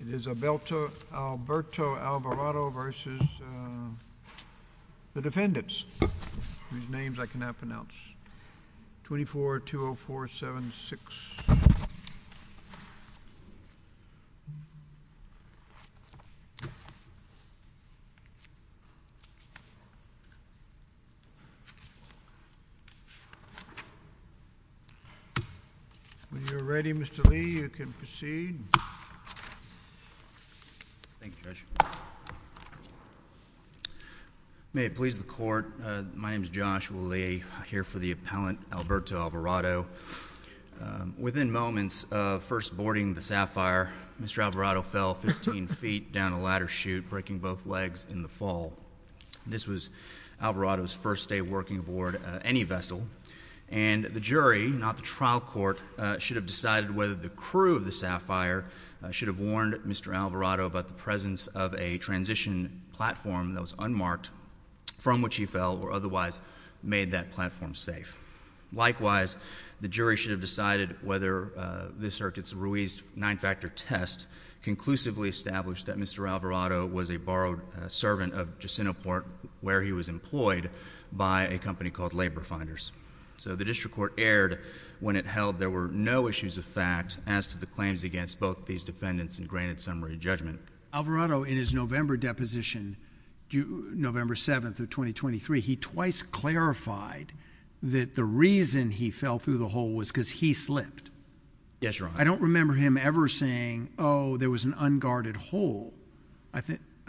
It is Alberto Alvarado v. The Defendants, whose names I cannot pronounce. 24-20476. When you are ready, Mr. Lee, you can proceed. Thank you, Judge. May it please the Court, my name is Joshua Lee. I'm here for the appellant, Alberto Alvarado. Within moments of first boarding the Sapphire, Mr. Alvarado fell 15 feet down a ladder chute, breaking both legs in the fall. This was Alvarado's first day working aboard any vessel. And the jury, not the trial court, should have decided whether the crew of the Sapphire should have warned Mr. Alvarado about the presence of a transition platform that was unmarked from which he fell or otherwise made that platform safe. Likewise, the jury should have decided whether the circuit's Ruiz nine-factor test conclusively established that Mr. Alvarado was a borrowed servant of Jacinto Port, where he was employed by a company called Labor Finders. So the district court erred when it held there were no issues of fact as to the claims against both these defendants and granted summary judgment. But Alvarado, in his November deposition, November 7th of 2023, he twice clarified that the reason he fell through the hole was because he slipped. Yes, Your Honor. I don't remember him ever saying, oh, there was an unguarded hole. I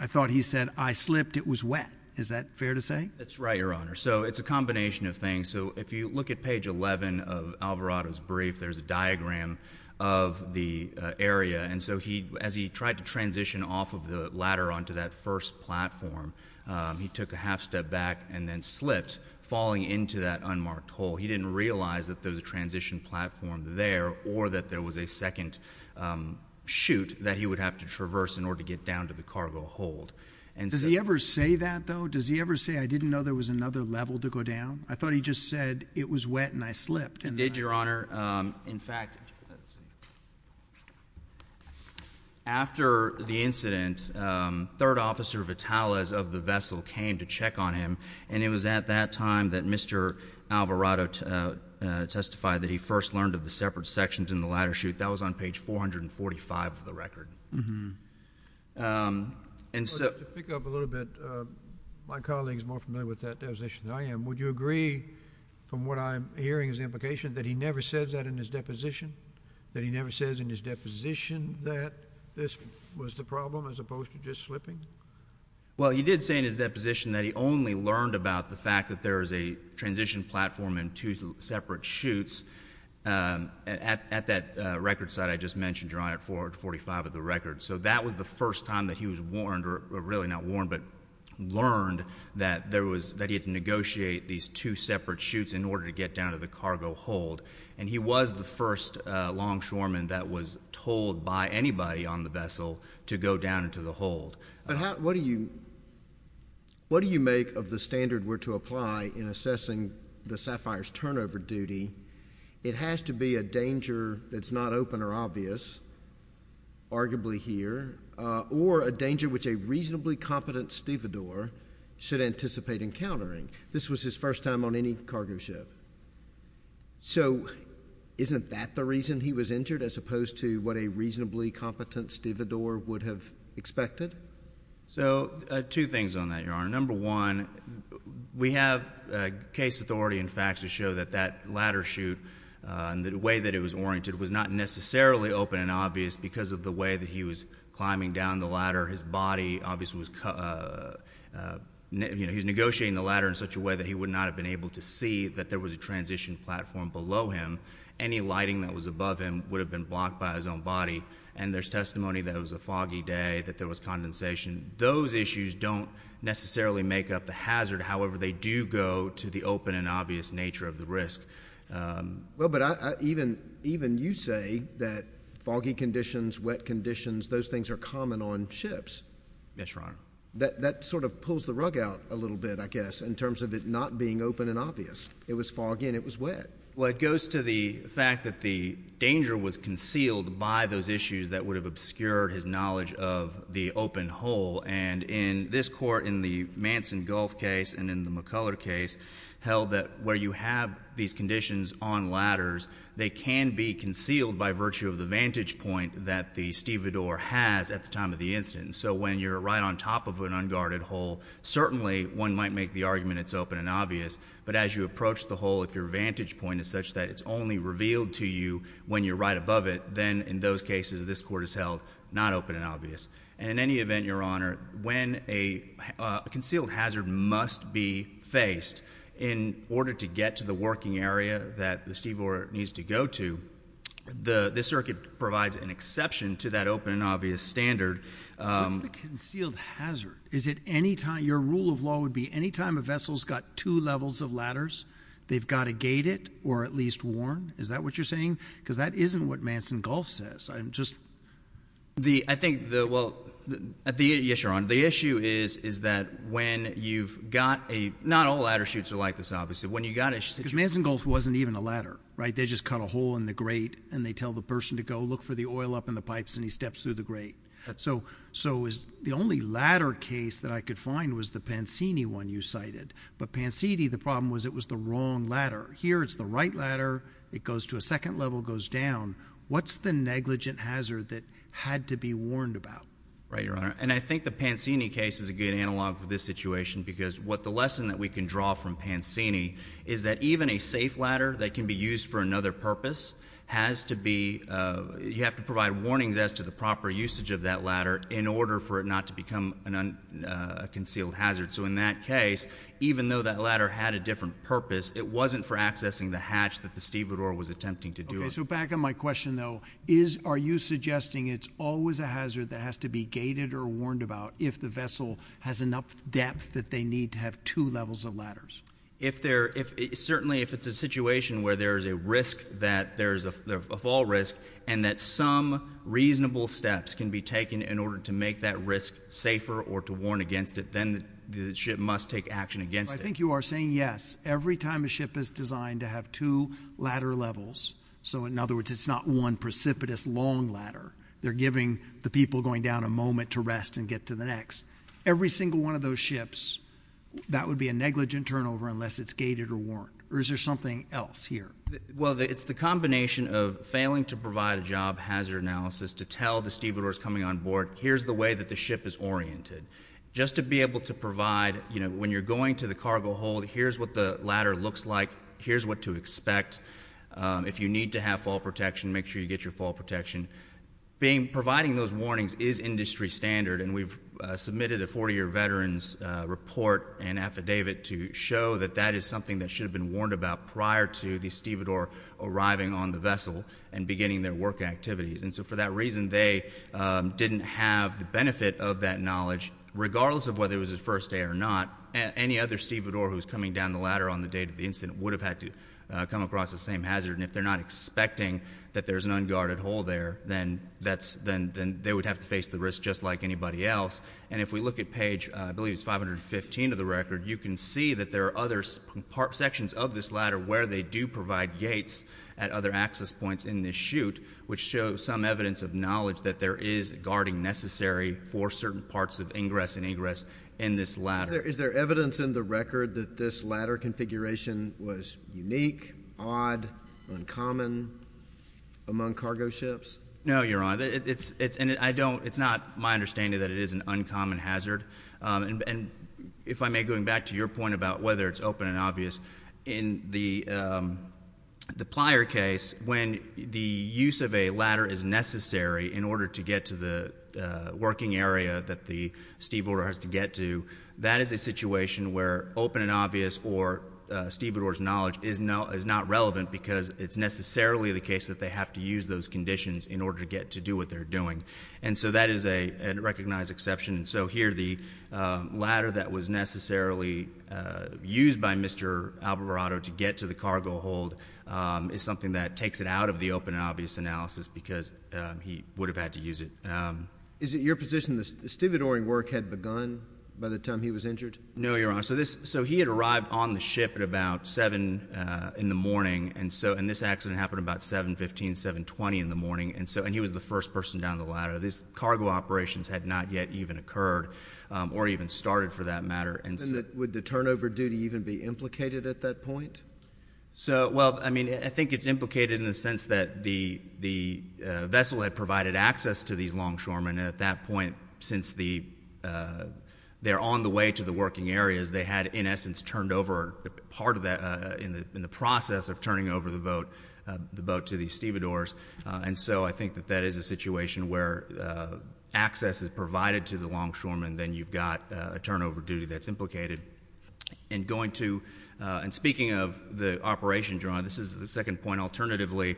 thought he said, I slipped, it was wet. Is that fair to say? That's right, Your Honor. So it's a combination of things. So if you look at page 11 of Alvarado's brief, there's a diagram of the area. And so as he tried to transition off of the ladder onto that first platform, he took a half step back and then slipped, falling into that unmarked hole. He didn't realize that there was a transition platform there or that there was a second chute that he would have to traverse in order to get down to the cargo hold. Does he ever say that, though? Does he ever say, I didn't know there was another level to go down? I thought he just said, it was wet and I slipped. He did, Your Honor. In fact, after the incident, Third Officer Vitales of the vessel came to check on him. And it was at that time that Mr. Alvarado testified that he first learned of the separate sections in the ladder chute. That was on page 445 of the record. To pick up a little bit, my colleague is more familiar with that devastation than I am. Would you agree, from what I'm hearing as an implication, that he never says that in his deposition? That he never says in his deposition that this was the problem as opposed to just slipping? Well, he did say in his deposition that he only learned about the fact that there is a transition platform and two separate chutes at that record site I just mentioned, Your Honor, at 445 of the record. So that was the first time that he was warned, or really not warned, but learned that he had to negotiate these two separate chutes in order to get down to the cargo hold. And he was the first longshoreman that was told by anybody on the vessel to go down into the hold. What do you make of the standard we're to apply in assessing the Sapphire's turnover duty? It has to be a danger that's not open or obvious. Arguably here. Or a danger which a reasonably competent stevedore should anticipate encountering. This was his first time on any cargo ship. So isn't that the reason he was injured as opposed to what a reasonably competent stevedore would have expected? So two things on that, Your Honor. Number one, we have case authority and facts to show that that ladder chute and the way that it was oriented was not necessarily open and obvious because of the way that he was climbing down the ladder. His body obviously was, you know, he was negotiating the ladder in such a way that he would not have been able to see that there was a transition platform below him. Any lighting that was above him would have been blocked by his own body. And there's testimony that it was a foggy day, that there was condensation. Those issues don't necessarily make up the hazard. However, they do go to the open and obvious nature of the risk. Well, but even you say that foggy conditions, wet conditions, those things are common on ships. Yes, Your Honor. That sort of pulls the rug out a little bit, I guess, in terms of it not being open and obvious. It was foggy and it was wet. Well, it goes to the fact that the danger was concealed by those issues that would have obscured his knowledge of the open hole. And in this court, in the Manson Gulf case and in the McCuller case, held that where you have these conditions on ladders, they can be concealed by virtue of the vantage point that the stevedore has at the time of the incident. So when you're right on top of an unguarded hole, certainly one might make the argument it's open and obvious. But as you approach the hole, if your vantage point is such that it's only revealed to you when you're right above it, then in those cases, this court has held not open and obvious. And in any event, Your Honor, when a concealed hazard must be faced in order to get to the working area that the stevedore needs to go to, the circuit provides an exception to that open and obvious standard. What's the concealed hazard? Your rule of law would be any time a vessel's got two levels of ladders, they've got to gate it or at least warn. Is that what you're saying? Because that isn't what Manson Gulf says. Yes, Your Honor. The issue is that when you've got a—not all ladder chutes are like this, obviously. Because Manson Gulf wasn't even a ladder, right? They just cut a hole in the grate and they tell the person to go look for the oil up in the pipes and he steps through the grate. So the only ladder case that I could find was the Pansini one you cited. But Pansini, the problem was it was the wrong ladder. Here it's the right ladder. It goes to a second level, goes down. What's the negligent hazard that had to be warned about? Right, Your Honor. And I think the Pansini case is a good analog for this situation because what the lesson that we can draw from Pansini is that even a safe ladder that can be used for another purpose has to be— you have to provide warnings as to the proper usage of that ladder in order for it not to become a concealed hazard. So in that case, even though that ladder had a different purpose, it wasn't for accessing the hatch that the stevedore was attempting to do. Okay, so back on my question, though. Are you suggesting it's always a hazard that has to be gated or warned about if the vessel has enough depth that they need to have two levels of ladders? If there—certainly if it's a situation where there is a risk that there is a fall risk and that some reasonable steps can be taken in order to make that risk safer or to warn against it, then the ship must take action against it. I think you are saying yes. Every time a ship is designed to have two ladder levels— so in other words, it's not one precipitous long ladder. They're giving the people going down a moment to rest and get to the next. Every single one of those ships, that would be a negligent turnover unless it's gated or warned. Or is there something else here? Well, it's the combination of failing to provide a job hazard analysis to tell the stevedores coming on board, here's the way that the ship is oriented. Just to be able to provide, you know, when you're going to the cargo hold, here's what the ladder looks like, here's what to expect. If you need to have fall protection, make sure you get your fall protection. Providing those warnings is industry standard, and we've submitted a 40-year veteran's report and affidavit to show that that is something that should have been warned about prior to the stevedore arriving on the vessel and beginning their work activities. And so for that reason, they didn't have the benefit of that knowledge, regardless of whether it was the first day or not. Any other stevedore who's coming down the ladder on the day of the incident would have had to come across the same hazard, and if they're not expecting that there's an unguarded hole there, then they would have to face the risk just like anybody else. And if we look at page, I believe it's 515 of the record, you can see that there are other sections of this ladder where they do provide gates at other access points in this chute, which shows some evidence of knowledge that there is guarding necessary for certain parts of ingress and egress in this ladder. Is there evidence in the record that this ladder configuration was unique, odd, uncommon among cargo ships? No, Your Honor. It's not my understanding that it is an uncommon hazard. And if I may, going back to your point about whether it's open and obvious, in the plier case, when the use of a ladder is necessary in order to get to the working area that the stevedore has to get to, that is a situation where open and obvious or stevedore's knowledge is not relevant because it's necessarily the case that they have to use those conditions in order to get to do what they're doing. And so that is a recognized exception. So here the ladder that was necessarily used by Mr. Alvarado to get to the cargo hold is something that takes it out of the open and obvious analysis because he would have had to use it. Is it your position the stevedoring work had begun by the time he was injured? No, Your Honor. So he had arrived on the ship at about 7 in the morning, and this accident happened about 7.15, 7.20 in the morning, and he was the first person down the ladder. These cargo operations had not yet even occurred or even started, for that matter. Would the turnover duty even be implicated at that point? Well, I mean, I think it's implicated in the sense that the vessel had provided access to these longshoremen, and at that point since they're on the way to the working areas, they had in essence turned over part of that in the process of turning over the boat to the stevedores. And so I think that that is a situation where access is provided to the longshoremen, then you've got a turnover duty that's implicated. And speaking of the operation, Your Honor, this is the second point. Alternatively,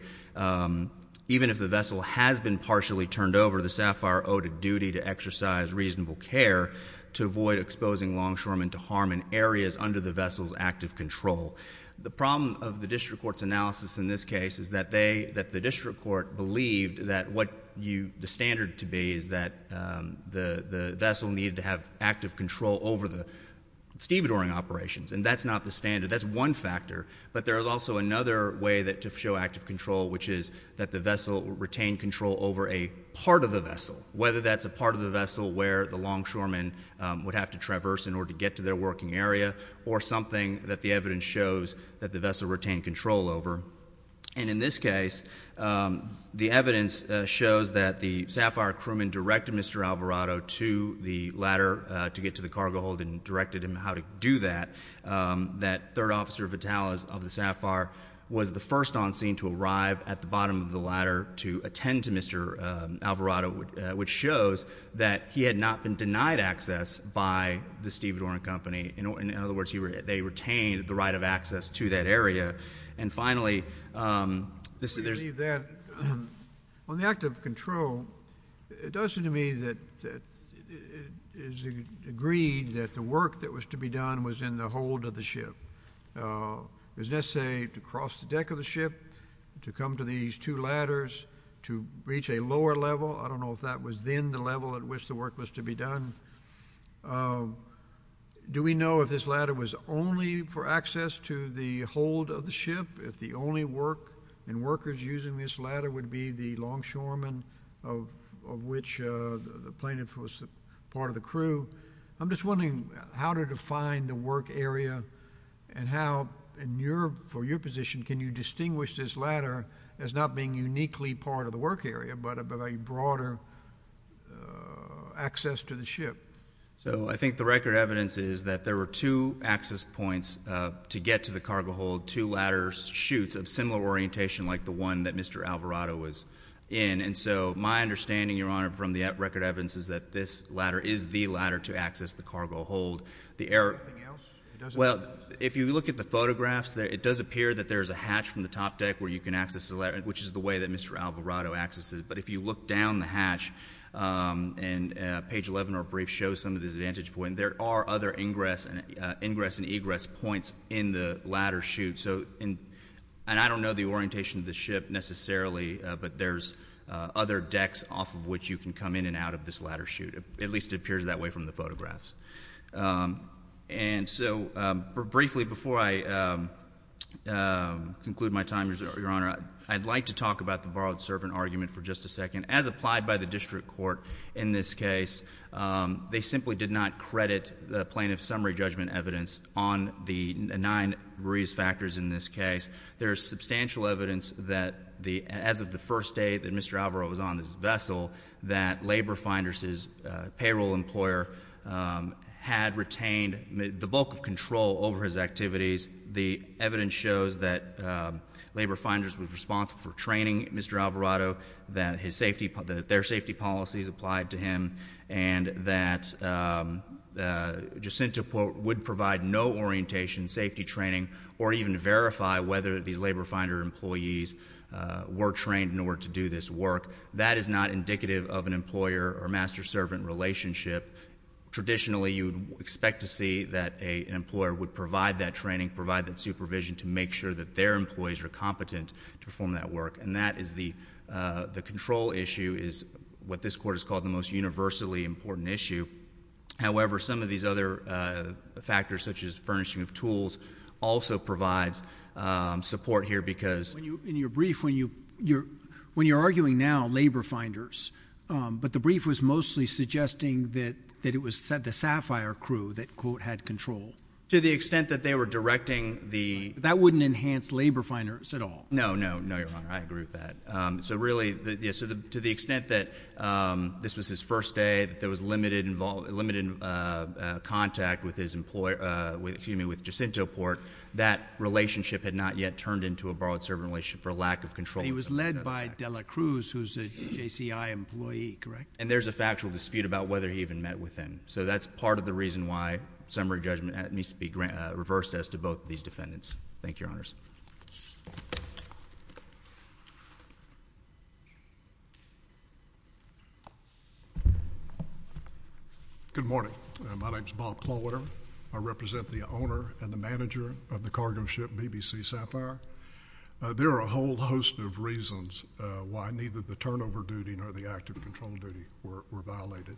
even if the vessel has been partially turned over, the SAFIRE owed a duty to exercise reasonable care to avoid exposing longshoremen to harm in areas under the vessel's active control. The problem of the district court's analysis in this case is that the district court believed that what the standard to be is that the vessel needed to have active control over the stevedoring operations, and that's not the standard. That's one factor, but there is also another way to show active control, which is that the vessel retained control over a part of the vessel, whether that's a part of the vessel where the longshoremen would have to traverse in order to get to their working area or something that the evidence shows that the vessel retained control over. And in this case, the evidence shows that the SAFIRE crewman directed Mr. Alvarado to the ladder to get to the cargo hold and directed him how to do that, that 3rd Officer Vitalis of the SAFIRE was the first on scene to arrive at the bottom of the ladder to attend to Mr. Alvarado, which shows that he had not been denied access by the stevedoring company. In other words, they retained the right of access to that area. And finally, there's... On the active control, it does seem to me that it is agreed that the work that was to be done was in the hold of the ship. It was necessary to cross the deck of the ship, to come to these two ladders, to reach a lower level. I don't know if that was then the level at which the work was to be done. Do we know if this ladder was only for access to the hold of the ship, if the only work and workers using this ladder would be the longshoremen, of which the plaintiff was part of the crew? I'm just wondering how to define the work area and how, for your position, can you distinguish this ladder as not being uniquely part of the work area but of a broader access to the ship? I think the record evidence is that there were two access points to get to the cargo hold, two ladder chutes of similar orientation like the one that Mr. Alvarado was in. And so my understanding, Your Honor, from the record evidence, is that this ladder is the ladder to access the cargo hold. Anything else? If you look at the photographs, it does appear that there's a hatch from the top deck where you can access the ladder, which is the way that Mr. Alvarado accesses. But if you look down the hatch, and page 11 or a brief shows some of this vantage point, there are other ingress and egress points in the ladder chute. And I don't know the orientation of the ship necessarily, but there's other decks off of which you can come in and out of this ladder chute. It at least appears that way from the photographs. And so briefly before I conclude my time, Your Honor, I'd like to talk about the borrowed servant argument for just a second. As applied by the district court in this case, they simply did not credit the plaintiff's summary judgment evidence on the nine reason factors in this case. There is substantial evidence that as of the first day that Mr. Alvarado was on this vessel that Labor Finders' payroll employer had retained the bulk of control over his activities. The evidence shows that Labor Finders was responsible for training Mr. Alvarado, that their safety policies applied to him, and that Jacinto would provide no orientation, safety training, or even verify whether these Labor Finder employees were trained in order to do this work. That is not indicative of an employer or master-servant relationship. Traditionally, you would expect to see that an employer would provide that training, provide that supervision to make sure that their employees are competent to perform that work. And that is the control issue is what this Court has called the most universally important issue. However, some of these other factors, such as furnishing of tools, also provides support here because— In your brief, when you're arguing now Labor Finders, but the brief was mostly suggesting that it was the Sapphire crew that, quote, had control. To the extent that they were directing the— That wouldn't enhance Labor Finders at all. No, no, no, Your Honor. I agree with that. So really, to the extent that this was his first day, that there was limited contact with his employer, excuse me, with Jacinto Port, that relationship had not yet turned into a borrowed-servant relationship for a lack of control. He was led by Dela Cruz, who's a JCI employee, correct? And there's a factual dispute about whether he even met with him. So that's part of the reason why summary judgment needs to be reversed as to both of these defendants. Thank you, Your Honors. Good morning. My name is Bob Klawitter. I represent the owner and the manager of the cargo ship BBC Sapphire. There are a whole host of reasons why neither the turnover duty nor the active control duty were violated.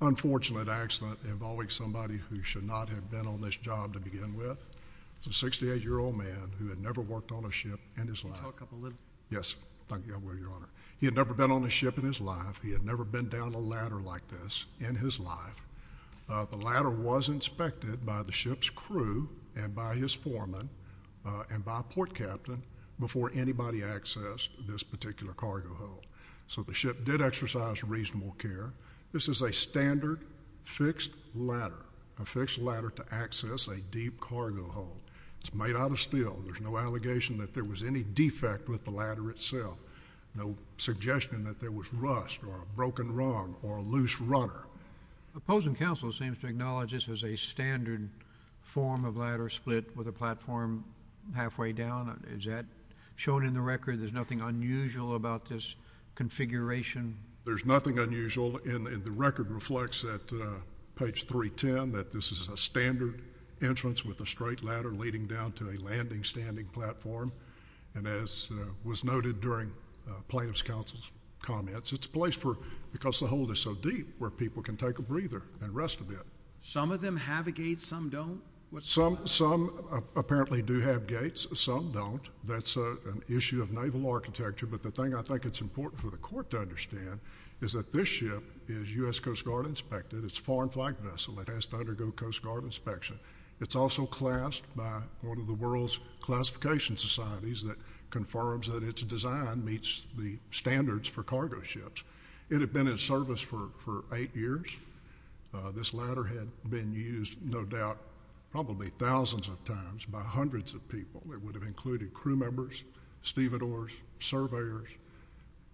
Unfortunate accident involving somebody who should not have been on this job to begin with. It's a 68-year-old man who had never worked on a ship in his life. Can you talk a little— Yes. Thank you. I will, Your Honor. He had never been on a ship in his life. He had never been down a ladder like this in his life. The ladder was inspected by the ship's crew and by his foreman and by a port captain before anybody accessed this particular cargo hold. So the ship did exercise reasonable care. This is a standard fixed ladder, a fixed ladder to access a deep cargo hold. It's made out of steel. There's no allegation that there was any defect with the ladder itself, no suggestion that there was rust or a broken rung or a loose runner. The opposing counsel seems to acknowledge this as a standard form of ladder split with a platform halfway down. Is that shown in the record? There's nothing unusual about this configuration? There's nothing unusual, and the record reflects that, page 310, that this is a standard entrance with a straight ladder leading down to a landing standing platform. And as was noted during plaintiff's counsel's comments, it's a place because the hold is so deep where people can take a breather and rest a bit. Some of them have a gate, some don't? Some apparently do have gates, some don't. That's an issue of naval architecture, but the thing I think it's important for the court to understand is that this ship is U.S. Coast Guard inspected. It's a foreign flag vessel. It has to undergo Coast Guard inspection. It's also classed by one of the world's classification societies that confirms that its design meets the standards for cargo ships. It had been in service for eight years. This ladder had been used, no doubt, probably thousands of times by hundreds of people. It would have included crew members, stevedores, surveyors,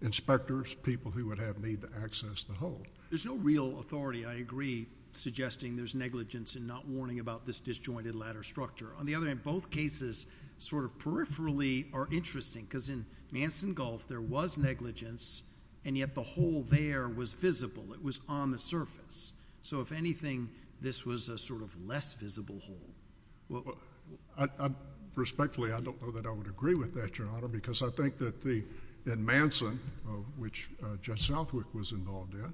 inspectors, people who would have need to access the hold. There's no real authority, I agree, suggesting there's negligence in not warning about this disjointed ladder structure. On the other hand, both cases sort of peripherally are interesting because in Manson Gulf there was negligence, and yet the hole there was visible. It was on the surface. So if anything, this was a sort of less visible hole. Respectfully, I don't know that I would agree with that, Your Honor, because I think that in Manson, which Judge Southwick was involved in,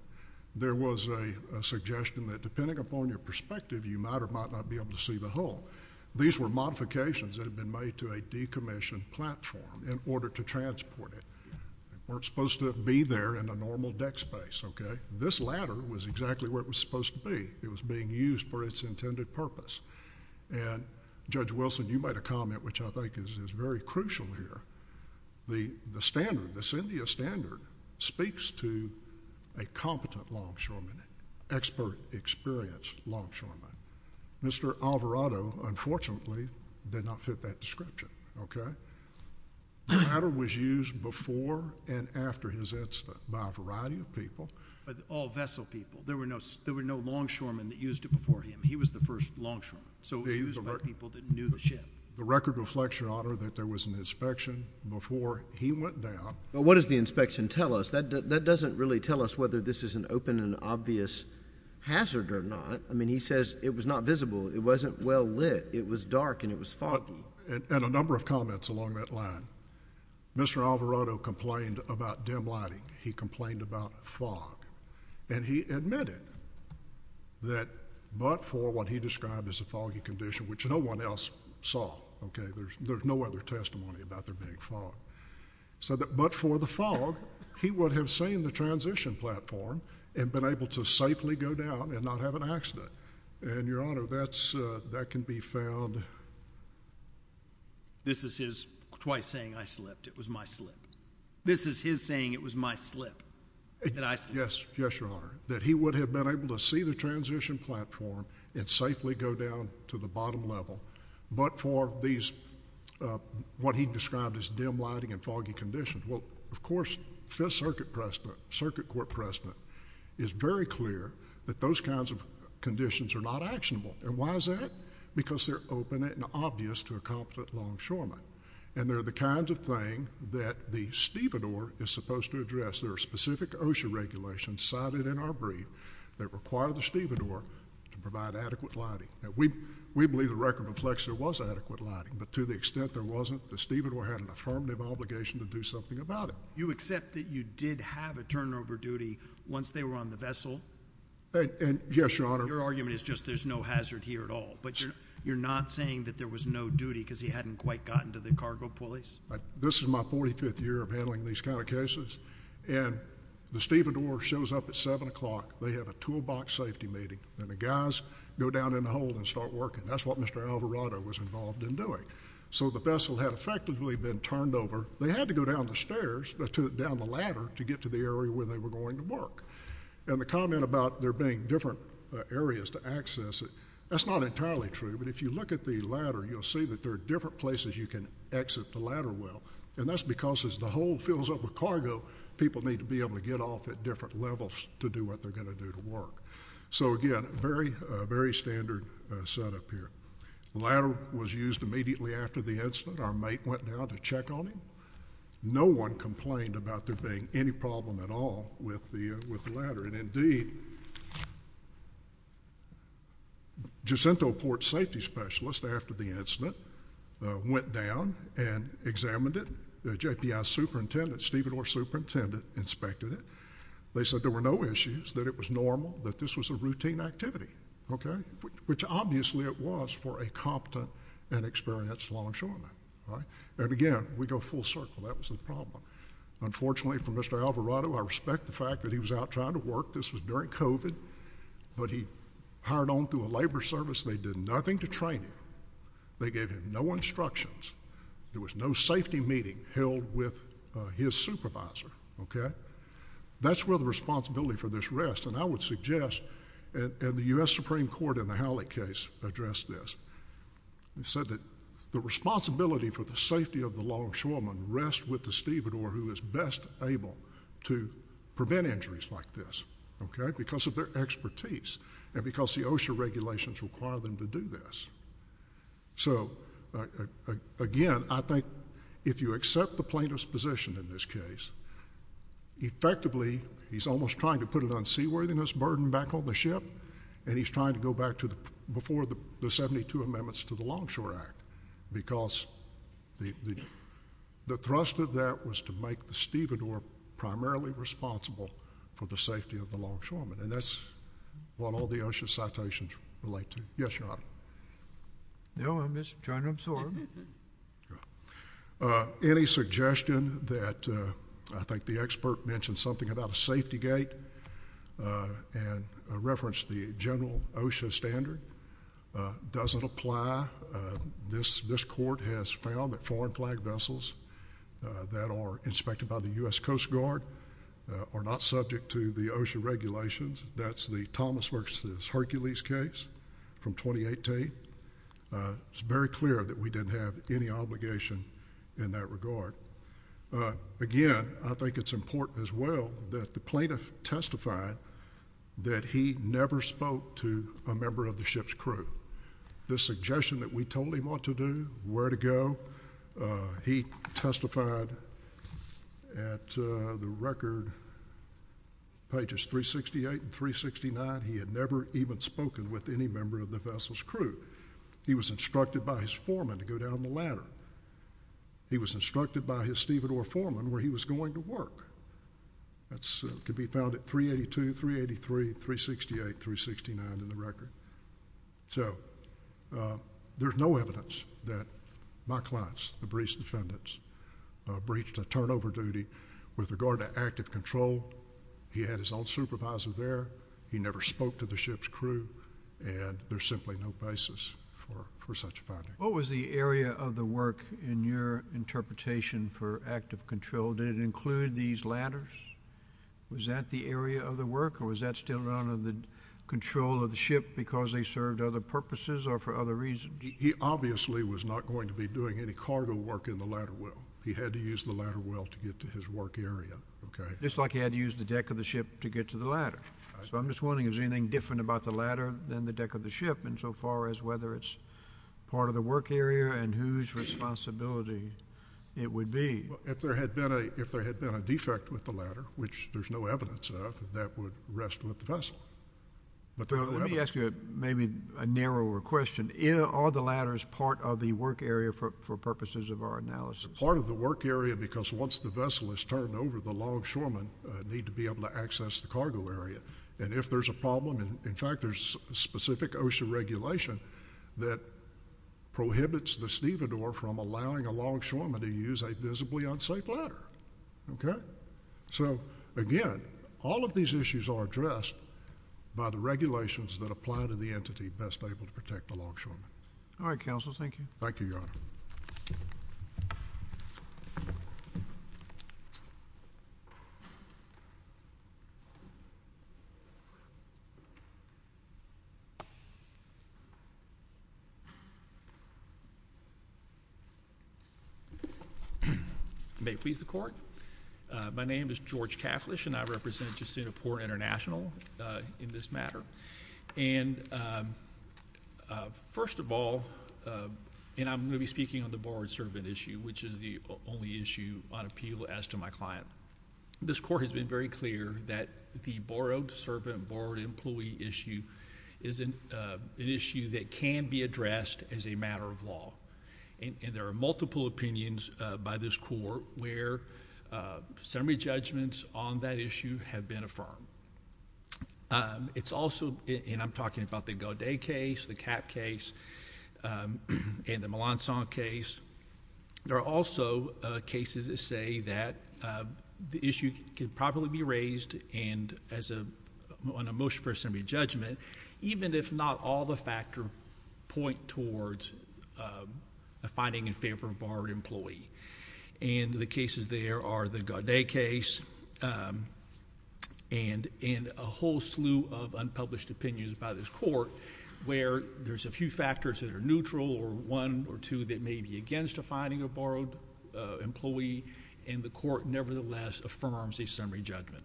there was a suggestion that depending upon your perspective, you might or might not be able to see the hole. These were modifications that had been made to a decommissioned platform in order to transport it. They weren't supposed to be there in a normal deck space. This ladder was exactly where it was supposed to be. It was being used for its intended purpose. Judge Wilson, you made a comment which I think is very crucial here. The standard, the SINDIA standard, speaks to a competent longshoreman, expert, experienced longshoreman. Mr. Alvarado, unfortunately, did not fit that description. The ladder was used before and after his insta by a variety of people. All vessel people. There were no longshoremen that used it before him. He was the first longshoreman. So it was people that knew the ship. The record reflects, Your Honor, that there was an inspection before he went down. But what does the inspection tell us? That doesn't really tell us whether this is an open and obvious hazard or not. I mean, he says it was not visible. It wasn't well lit. It was dark and it was foggy. And a number of comments along that line. Mr. Alvarado complained about dim lighting. He complained about fog. And he admitted that but for what he described as a foggy condition, which no one else saw, okay, there's no other testimony about there being fog. But for the fog, he would have seen the transition platform and been able to safely go down and not have an accident. And, Your Honor, that can be found. This is his twice saying, I slipped. It was my slip. This is his saying, it was my slip that I slipped. Yes, Your Honor, that he would have been able to see the transition platform and safely go down to the bottom level, but for what he described as dim lighting and foggy conditions. Well, of course, Fifth Circuit President, Circuit Court President, is very clear that those kinds of conditions are not actionable. And why is that? Because they're open and obvious to a competent longshoreman. And they're the kinds of thing that the stevedore is supposed to address. There are specific OSHA regulations cited in our brief that require the stevedore to provide adequate lighting. We believe the record reflects there was adequate lighting, but to the extent there wasn't, the stevedore had an affirmative obligation to do something about it. You accept that you did have a turnover duty once they were on the vessel? Yes, Your Honor. Your argument is just there's no hazard here at all. But you're not saying that there was no duty because he hadn't quite gotten to the cargo pulleys? This is my 45th year of handling these kind of cases. And the stevedore shows up at 7 o'clock. They have a toolbox safety meeting, and the guys go down in the hold and start working. That's what Mr. Alvarado was involved in doing. So the vessel had effectively been turned over. They had to go down the stairs, down the ladder, to get to the area where they were going to work. And the comment about there being different areas to access it, that's not entirely true. But if you look at the ladder, you'll see that there are different places you can exit the ladder well. And that's because as the hold fills up with cargo, people need to be able to get off at different levels to do what they're going to do to work. So, again, very standard setup here. The ladder was used immediately after the incident. Our mate went down to check on him. No one complained about there being any problem at all with the ladder. And, indeed, Jacinto Port Safety Specialist, after the incident, went down and examined it. The JPI superintendent, Stephen Orr superintendent, inspected it. They said there were no issues, that it was normal, that this was a routine activity, okay, which obviously it was for a competent and experienced law ensurement. And, again, we go full circle. That was the problem. Unfortunately for Mr. Alvarado, I respect the fact that he was out trying to work. This was during COVID. But he hired on through a labor service. They did nothing to train him. They gave him no instructions. There was no safety meeting held with his supervisor, okay. That's where the responsibility for this rests. And I would suggest, and the U.S. Supreme Court in the Howlett case addressed this, said that the responsibility for the safety of the law ensurement relates with the Stephen Orr who is best able to prevent injuries like this, okay, because of their expertise and because the OSHA regulations require them to do this. So, again, I think if you accept the plaintiff's position in this case, effectively he's almost trying to put an unseaworthiness burden back on the ship and he's trying to go back to before the 72 amendments to the Longshore Act because the thrust of that was to make the Stephen Orr primarily responsible for the safety of the longshoremen. And that's what all the OSHA citations relate to. Yes, Your Honor. No, I'm just trying to absorb. Any suggestion that I think the expert mentioned something about a safety gate and referenced the general OSHA standard? Does it apply? This court has found that foreign flag vessels that are inspected by the U.S. Coast Guard are not subject to the OSHA regulations. That's the Thomas versus Hercules case from 2018. It's very clear that we didn't have any obligation in that regard. Again, I think it's important as well that the plaintiff testified that he never spoke to a member of the ship's crew. The suggestion that we told him what to do, where to go, he testified at the record, pages 368 and 369, he had never even spoken with any member of the vessel's crew. He was instructed by his foreman to go down the ladder. He was instructed by his Stephen Orr foreman where he was going to work. That could be found at 382, 383, 368, 369 in the record. So there's no evidence that my clients, the breech defendants, breached a turnover duty with regard to active control. He had his own supervisor there. He never spoke to the ship's crew, and there's simply no basis for such a finding. What was the area of the work in your interpretation for active control? Did it include these ladders? Was that the area of the work, or was that still under the control of the ship because they served other purposes or for other reasons? He obviously was not going to be doing any cargo work in the ladder well. He had to use the ladder well to get to his work area. Just like he had to use the deck of the ship to get to the ladder. So I'm just wondering if there's anything different about the ladder than the deck of the ship insofar as whether it's part of the work area and whose responsibility it would be. If there had been a defect with the ladder, which there's no evidence of, that would rest with the vessel. Let me ask you maybe a narrower question. Are the ladders part of the work area for purposes of our analysis? Part of the work area because once the vessel is turned over, the longshoremen need to be able to access the cargo area. And if there's a problem, in fact, there's a specific OSHA regulation that prohibits the stevedore from allowing a longshoreman to use a visibly unsafe ladder. So, again, all of these issues are addressed by the regulations that apply to the entity best able to protect the longshoremen. All right, Counsel. Thank you. Thank you, Your Honor. May it please the Court. My name is George Catholish, and I represent Jacinto Port International in this matter. And first of all, and I'm going to be speaking on the borrowed servant issue, which is the only issue on appeal as to my client. This Court has been very clear that the borrowed servant, borrowed employee issue is an issue that can be addressed as a matter of law. And there are multiple opinions by this Court where summary judgments on that issue have been affirmed. It's also, and I'm talking about the Gaudet case, the Capp case, and the Melancon case. There are also cases that say that the issue can probably be raised on a motion for a summary judgment, even if not all the factors point towards a finding in favor of a borrowed employee. And the cases there are the Gaudet case and a whole slew of unpublished opinions by this Court where there's a few factors that are neutral, or one or two that may be against a finding of a borrowed employee, and the Court nevertheless affirms a summary judgment.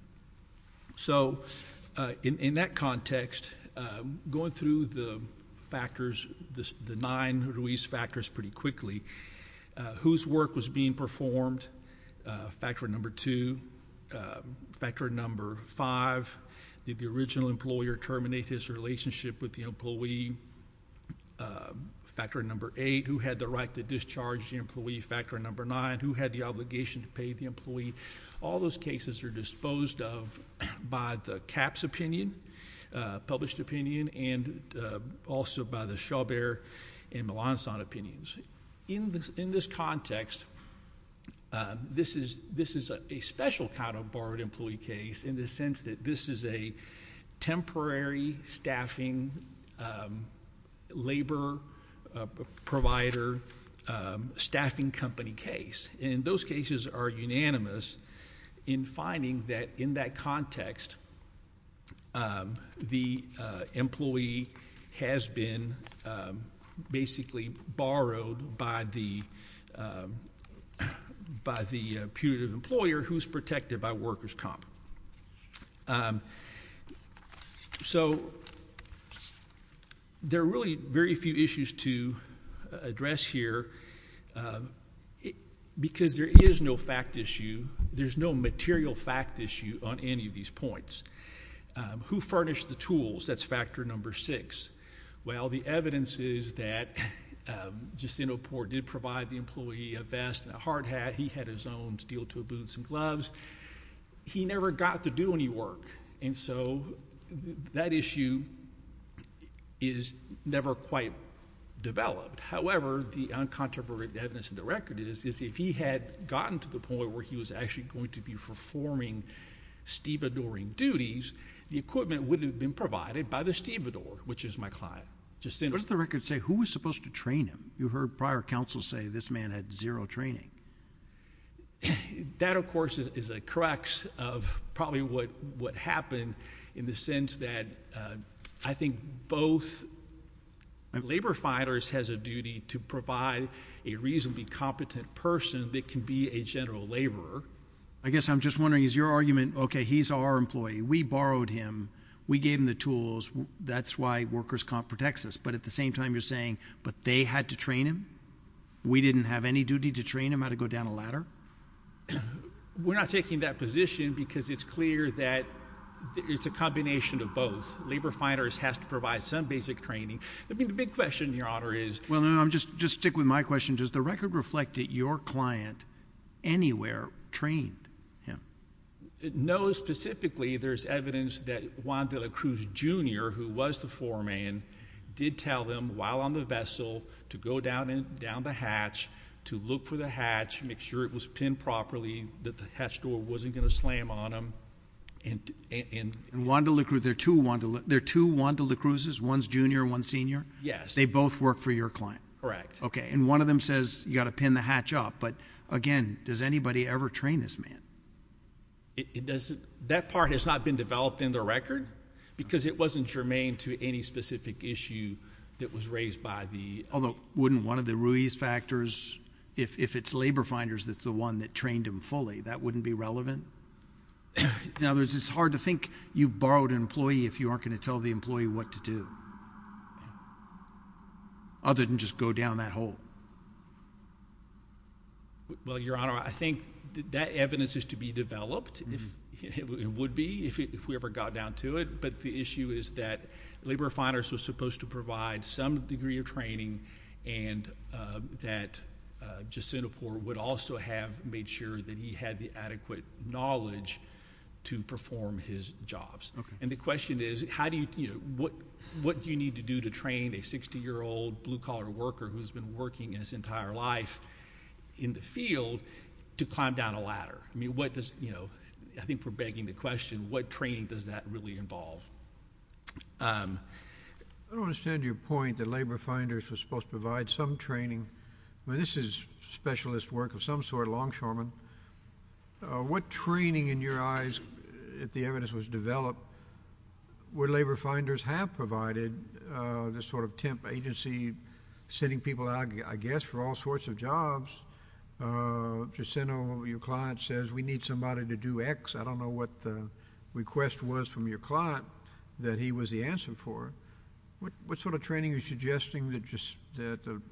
So in that context, going through the factors, the nine Ruiz factors pretty quickly, whose work was being performed, factor number two, factor number five, did the original employer terminate his relationship with the employee, factor number eight, who had the right to discharge the employee, factor number nine, who had the obligation to pay the employee, all those cases are disposed of by the Capp's opinion, published opinion, and also by the Schauber and Melancon opinions. In this context, this is a special kind of borrowed employee case in the sense that this is a temporary staffing labor provider staffing company case. And those cases are unanimous in finding that in that context, the employee has been basically borrowed by the putative employer who's protected by workers' comp. So there are really very few issues to address here because there is no fact issue. There's no material fact issue on any of these points. Who furnished the tools? That's factor number six. Well, the evidence is that Jacinto Poore did provide the employee a vest and a hard hat. He had his own steel-toed boots and gloves. He never got to do any work, and so that issue is never quite developed. However, the uncontroverted evidence in the record is if he had gotten to the point where he was actually going to be performing stevedoring duties, the equipment wouldn't have been provided by the stevedore, which is my client, Jacinto. What does the record say? Who was supposed to train him? You heard prior counsel say this man had zero training. That, of course, is a crux of probably what happened in the sense that I think both labor fighters has a duty to provide a reasonably competent person that can be a general laborer. I guess I'm just wondering is your argument, okay, he's our employee. We borrowed him. We gave him the tools. That's why workers' comp protects us. But at the same time, you're saying, but they had to train him? We didn't have any duty to train him how to go down a ladder? We're not taking that position because it's clear that it's a combination of both. Labor fighters have to provide some basic training. I mean, the big question, Your Honor, is— Well, no, just stick with my question. Does the record reflect that your client anywhere trained him? No, specifically there's evidence that Wanda LaCruz Jr., who was the foreman, did tell him while on the vessel to go down the hatch, to look for the hatch, make sure it was pinned properly, that the hatch door wasn't going to slam on him. And Wanda LaCruz, there are two Wanda LaCruzes, one's junior, one's senior? Yes. They both work for your client? Correct. Okay, and one of them says you've got to pin the hatch up. But, again, does anybody ever train this man? That part has not been developed in the record because it wasn't germane to any specific issue that was raised by the— Although, wouldn't one of the Ruiz factors, if it's labor fighters that's the one that trained him fully, that wouldn't be relevant? In other words, it's hard to think you've borrowed an employee if you aren't going to tell the employee what to do, other than just go down that hole. Well, Your Honor, I think that evidence is to be developed. It would be if we ever got down to it. But the issue is that labor fighters were supposed to provide some degree of training and that Jacinto Poore would also have made sure that he had the adequate knowledge to perform his jobs. And the question is, what do you need to do to train a 60-year-old blue-collar worker who's been working his entire life in the field to climb down a ladder? I mean, I think we're begging the question, what training does that really involve? I don't understand your point that labor fighters were supposed to provide some training. I mean, this is specialist work of some sort, longshoremen. What training, in your eyes, if the evidence was developed, would labor fighters have provided this sort of temp agency, sending people out, I guess, for all sorts of jobs? Jacinto, your client says, we need somebody to do X. I don't know what the request was from your client that he was the answer for. What sort of training are you suggesting that the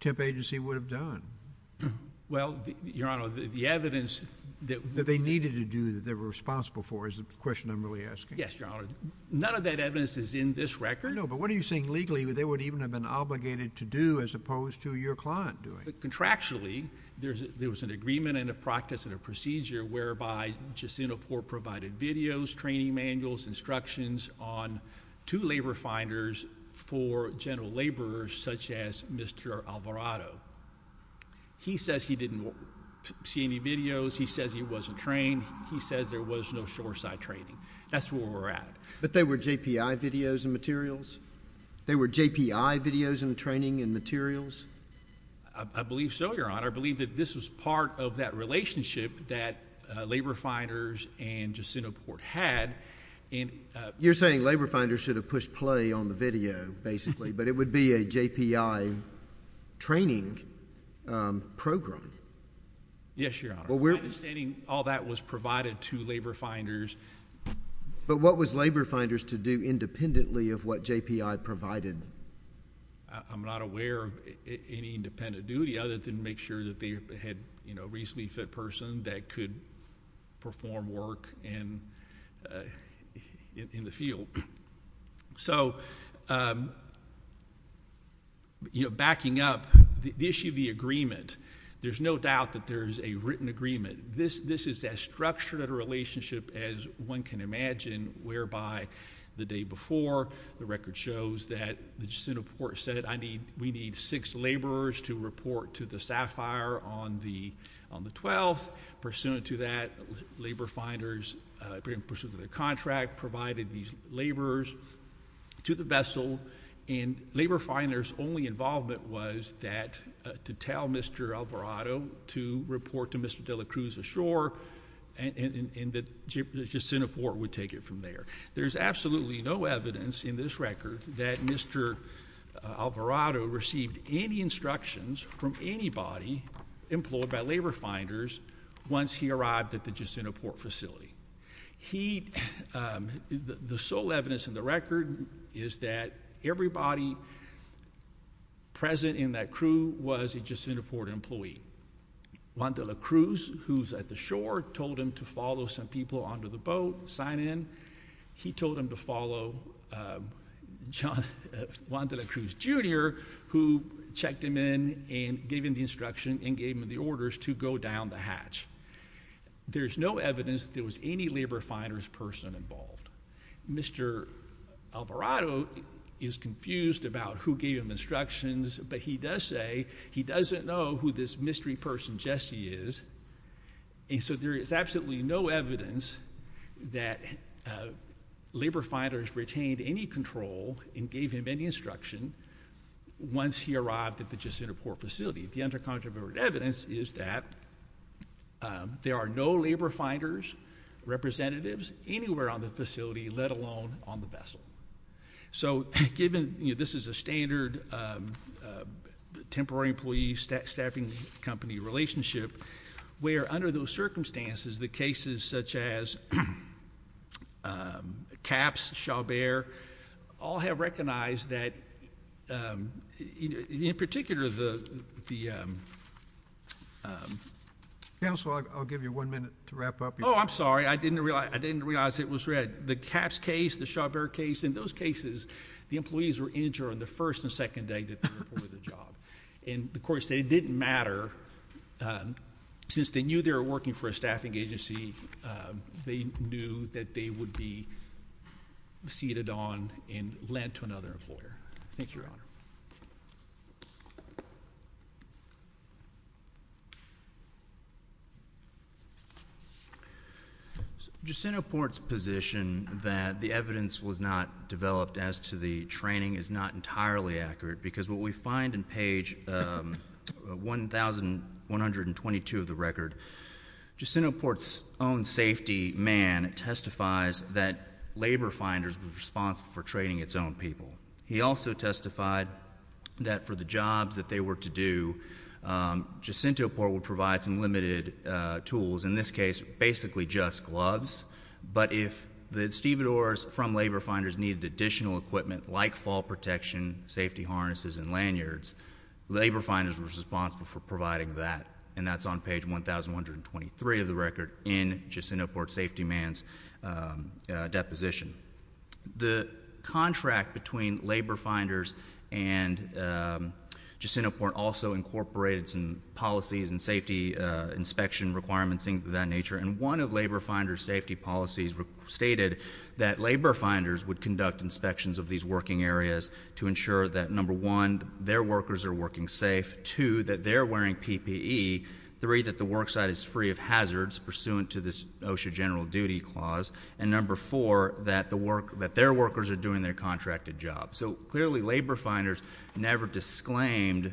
temp agency would have done? Well, Your Honor, the evidence that they needed to do, that they were responsible for, is the question I'm really asking. Yes, Your Honor. None of that evidence is in this record. No, but what are you saying legally they would even have been obligated to do as opposed to your client doing? Contractually, there was an agreement and a practice and a procedure whereby Jacinto Poore provided videos, training manuals, instructions on two labor finders for general laborers such as Mr. Alvarado. He says he didn't see any videos. He says he wasn't trained. He says there was no shoreside training. That's where we're at. But they were JPI videos and materials? They were JPI videos and training and materials? I believe so, Your Honor. I believe that this was part of that relationship that labor finders and Jacinto Poore had. You're saying labor finders should have pushed play on the video, basically, but it would be a JPI training program. Yes, Your Honor. Understanding all that was provided to labor finders. But what was labor finders to do independently of what JPI provided? I'm not aware of any independent duty other than make sure that they had a reasonably fit person that could perform work in the field. So, you know, backing up, the issue of the agreement, there's no doubt that there's a written agreement. This is as structured a relationship as one can imagine whereby the day before, the record shows that Jacinto Poore said, we need six laborers to report to the SAFIRE on the 12th. Pursuant to that, labor finders, in pursuit of the contract, provided these laborers to the vessel. And labor finders' only involvement was to tell Mr. Alvarado to report to Mr. De La Cruz ashore and that Jacinto Poore would take it from there. There's absolutely no evidence in this record that Mr. Alvarado received any instructions from anybody employed by labor finders once he arrived at the Jacinto Poore facility. The sole evidence in the record is that everybody present in that crew was a Jacinto Poore employee. Juan De La Cruz, who's at the shore, told him to follow some people onto the boat, sign in. He told him to follow Juan De La Cruz, Jr., who checked him in and gave him the instruction and gave him the orders to go down the hatch. There's no evidence there was any labor finder's person involved. Mr. Alvarado is confused about who gave him instructions, but he does say he doesn't know who this mystery person Jesse is. And so there is absolutely no evidence that labor finders retained any control and gave him any instruction once he arrived at the Jacinto Poore facility. The under-controversial evidence is that there are no labor finders' representatives anywhere on the facility, let alone on the vessel. So given, you know, this is a standard temporary employee-staffing company relationship, where under those circumstances the cases such as Capps, Chaubert, all have recognized that, in particular, the... Counsel, I'll give you one minute to wrap up. Oh, I'm sorry. I didn't realize it was read. The Capps case, the Chaubert case, in those cases the employees were injured on the first and second day that they were employed at the job. And the court said it didn't matter. Since they knew they were working for a staffing agency, they knew that they would be seated on and lent to another employer. Thank you, Your Honor. Jacinto Poore's position that the evidence was not developed as to the training is not entirely accurate because what we find in page 1122 of the record, Jacinto Poore's own safety man testifies that labor finders were responsible for training its own people. He also testified that for the jobs that they were to do, Jacinto Poore would provide some limited tools, in this case basically just gloves, but if the stevedores from labor finders needed additional equipment like fall protection, safety harnesses, and lanyards, labor finders were responsible for providing that, and that's on page 1123 of the record in Jacinto Poore's safety man's deposition. The contract between labor finders and Jacinto Poore also incorporated some policies and safety inspection requirements, things of that nature, and one of labor finder's safety policies stated that labor finders would conduct inspections of these working areas to ensure that, number one, their workers are working safe, two, that they're wearing PPE, three, that the work site is free of hazards pursuant to this OSHA general duty clause, and number four, that their workers are doing their contracted job. So clearly labor finders never disclaimed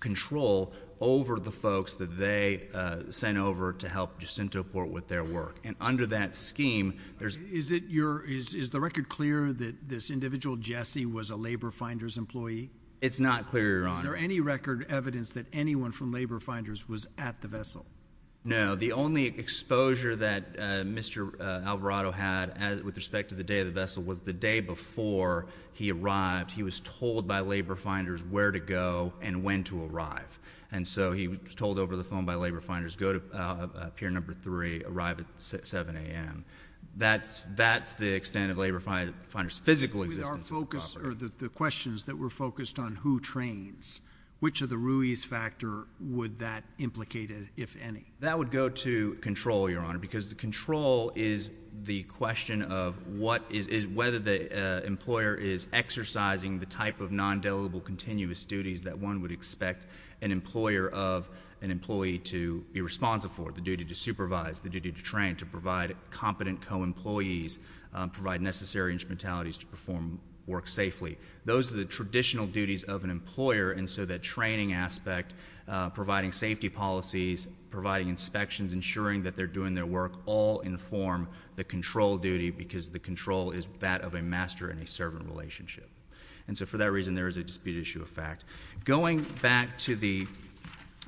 control over the folks that they sent over to help Jacinto Poore with their work, and under that scheme, there's... Is the record clear that this individual, Jesse, was a labor finder's employee? It's not clear, Your Honor. Is there any record evidence that anyone from labor finders was at the vessel? No. The only exposure that Mr. Alvarado had with respect to the day of the vessel was the day before he arrived. He was told by labor finders where to go and when to arrive, and so he was told over the phone by labor finders go to pier number three, arrive at 7 a.m. That's the extent of labor finder's physical existence. With our focus or the questions that were focused on who trains, which of the Ruiz factor would that implicate, if any? That would go to control, Your Honor, because the control is the question of whether the employer is exercising the type of non-deliverable continuous duties that one would expect an employer of an employee to be responsive for, the duty to supervise, the duty to train, to provide competent co-employees, provide necessary instrumentalities to perform work safely. Those are the traditional duties of an employer, and so that training aspect, providing safety policies, providing inspections, ensuring that they're doing their work, all inform the control duty because the control is that of a master and a servant relationship. And so for that reason, there is a dispute issue of fact. Going back to the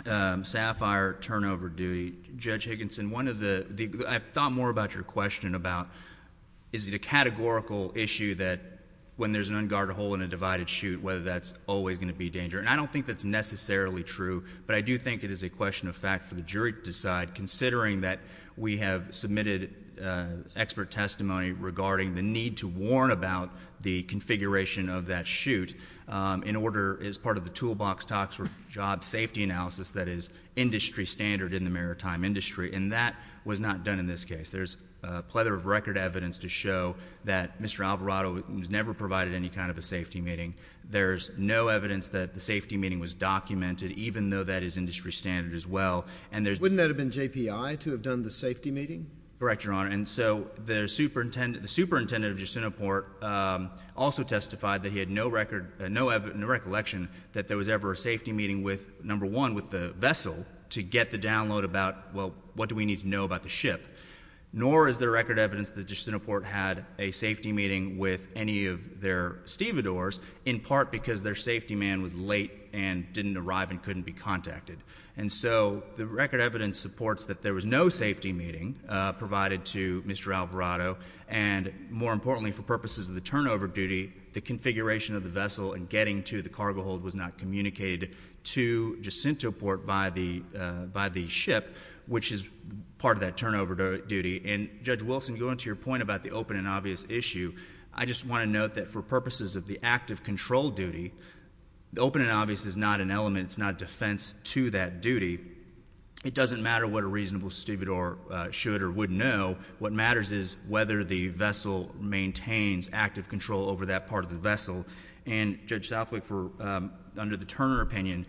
SAFIRE turnover duty, Judge Higginson, I thought more about your question about is it a categorical issue that when there's an unguarded hole in a divided chute, whether that's always going to be a danger? And I don't think that's necessarily true, but I do think it is a question of fact for the jury to decide, considering that we have submitted expert testimony regarding the need to warn about the configuration of that chute in order, as part of the toolbox talks for job safety analysis that is industry standard in the maritime industry, and that was not done in this case. There's a plethora of record evidence to show that Mr. Alvarado was never provided any kind of a safety meeting. There's no evidence that the safety meeting was documented, even though that is industry standard as well. Wouldn't that have been JPI to have done the safety meeting? Correct, Your Honor. And so the superintendent of Justinoport also testified that he had no recollection that there was ever a safety meeting with, number one, with the vessel to get the download about, well, what do we need to know about the ship? Nor is there record evidence that Justinoport had a safety meeting with any of their stevedores, in part because their safety man was late and didn't arrive and couldn't be contacted. And so the record evidence supports that there was no safety meeting provided to Mr. Alvarado, and more importantly, for purposes of the turnover duty, the configuration of the vessel and getting to the cargo hold was not communicated to Justinoport by the ship, which is part of that turnover duty. And, Judge Wilson, going to your point about the open and obvious issue, I just want to note that for purposes of the active control duty, the open and obvious is not an element, it's not defense to that duty. It doesn't matter what a reasonable stevedore should or would know. What matters is whether the vessel maintains active control over that part of the vessel. And, Judge Southwick, under the Turner opinion,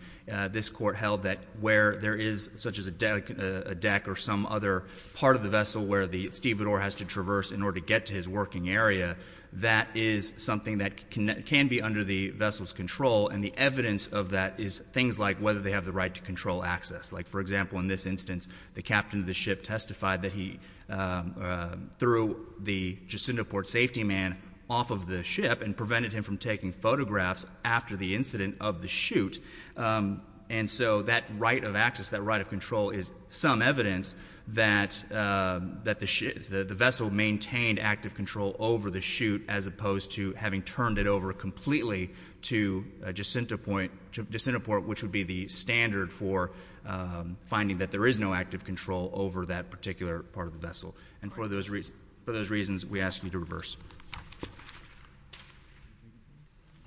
this court held that where there is such as a deck or some other part of the vessel where the stevedore has to traverse in order to get to his working area, that is something that can be under the vessel's control, and the evidence of that is things like whether they have the right to control access. Like, for example, in this instance, the captain of the ship testified that he threw the Justinoport safety man off of the ship and prevented him from taking photographs after the incident of the shoot. And so that right of access, that right of control is some evidence that the vessel maintained active control over the shoot as opposed to having turned it over completely to Justinoport, which would be the standard for finding that there is no active control over that particular part of the vessel. And for those reasons, we ask you to reverse.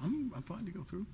I'm fine to go through.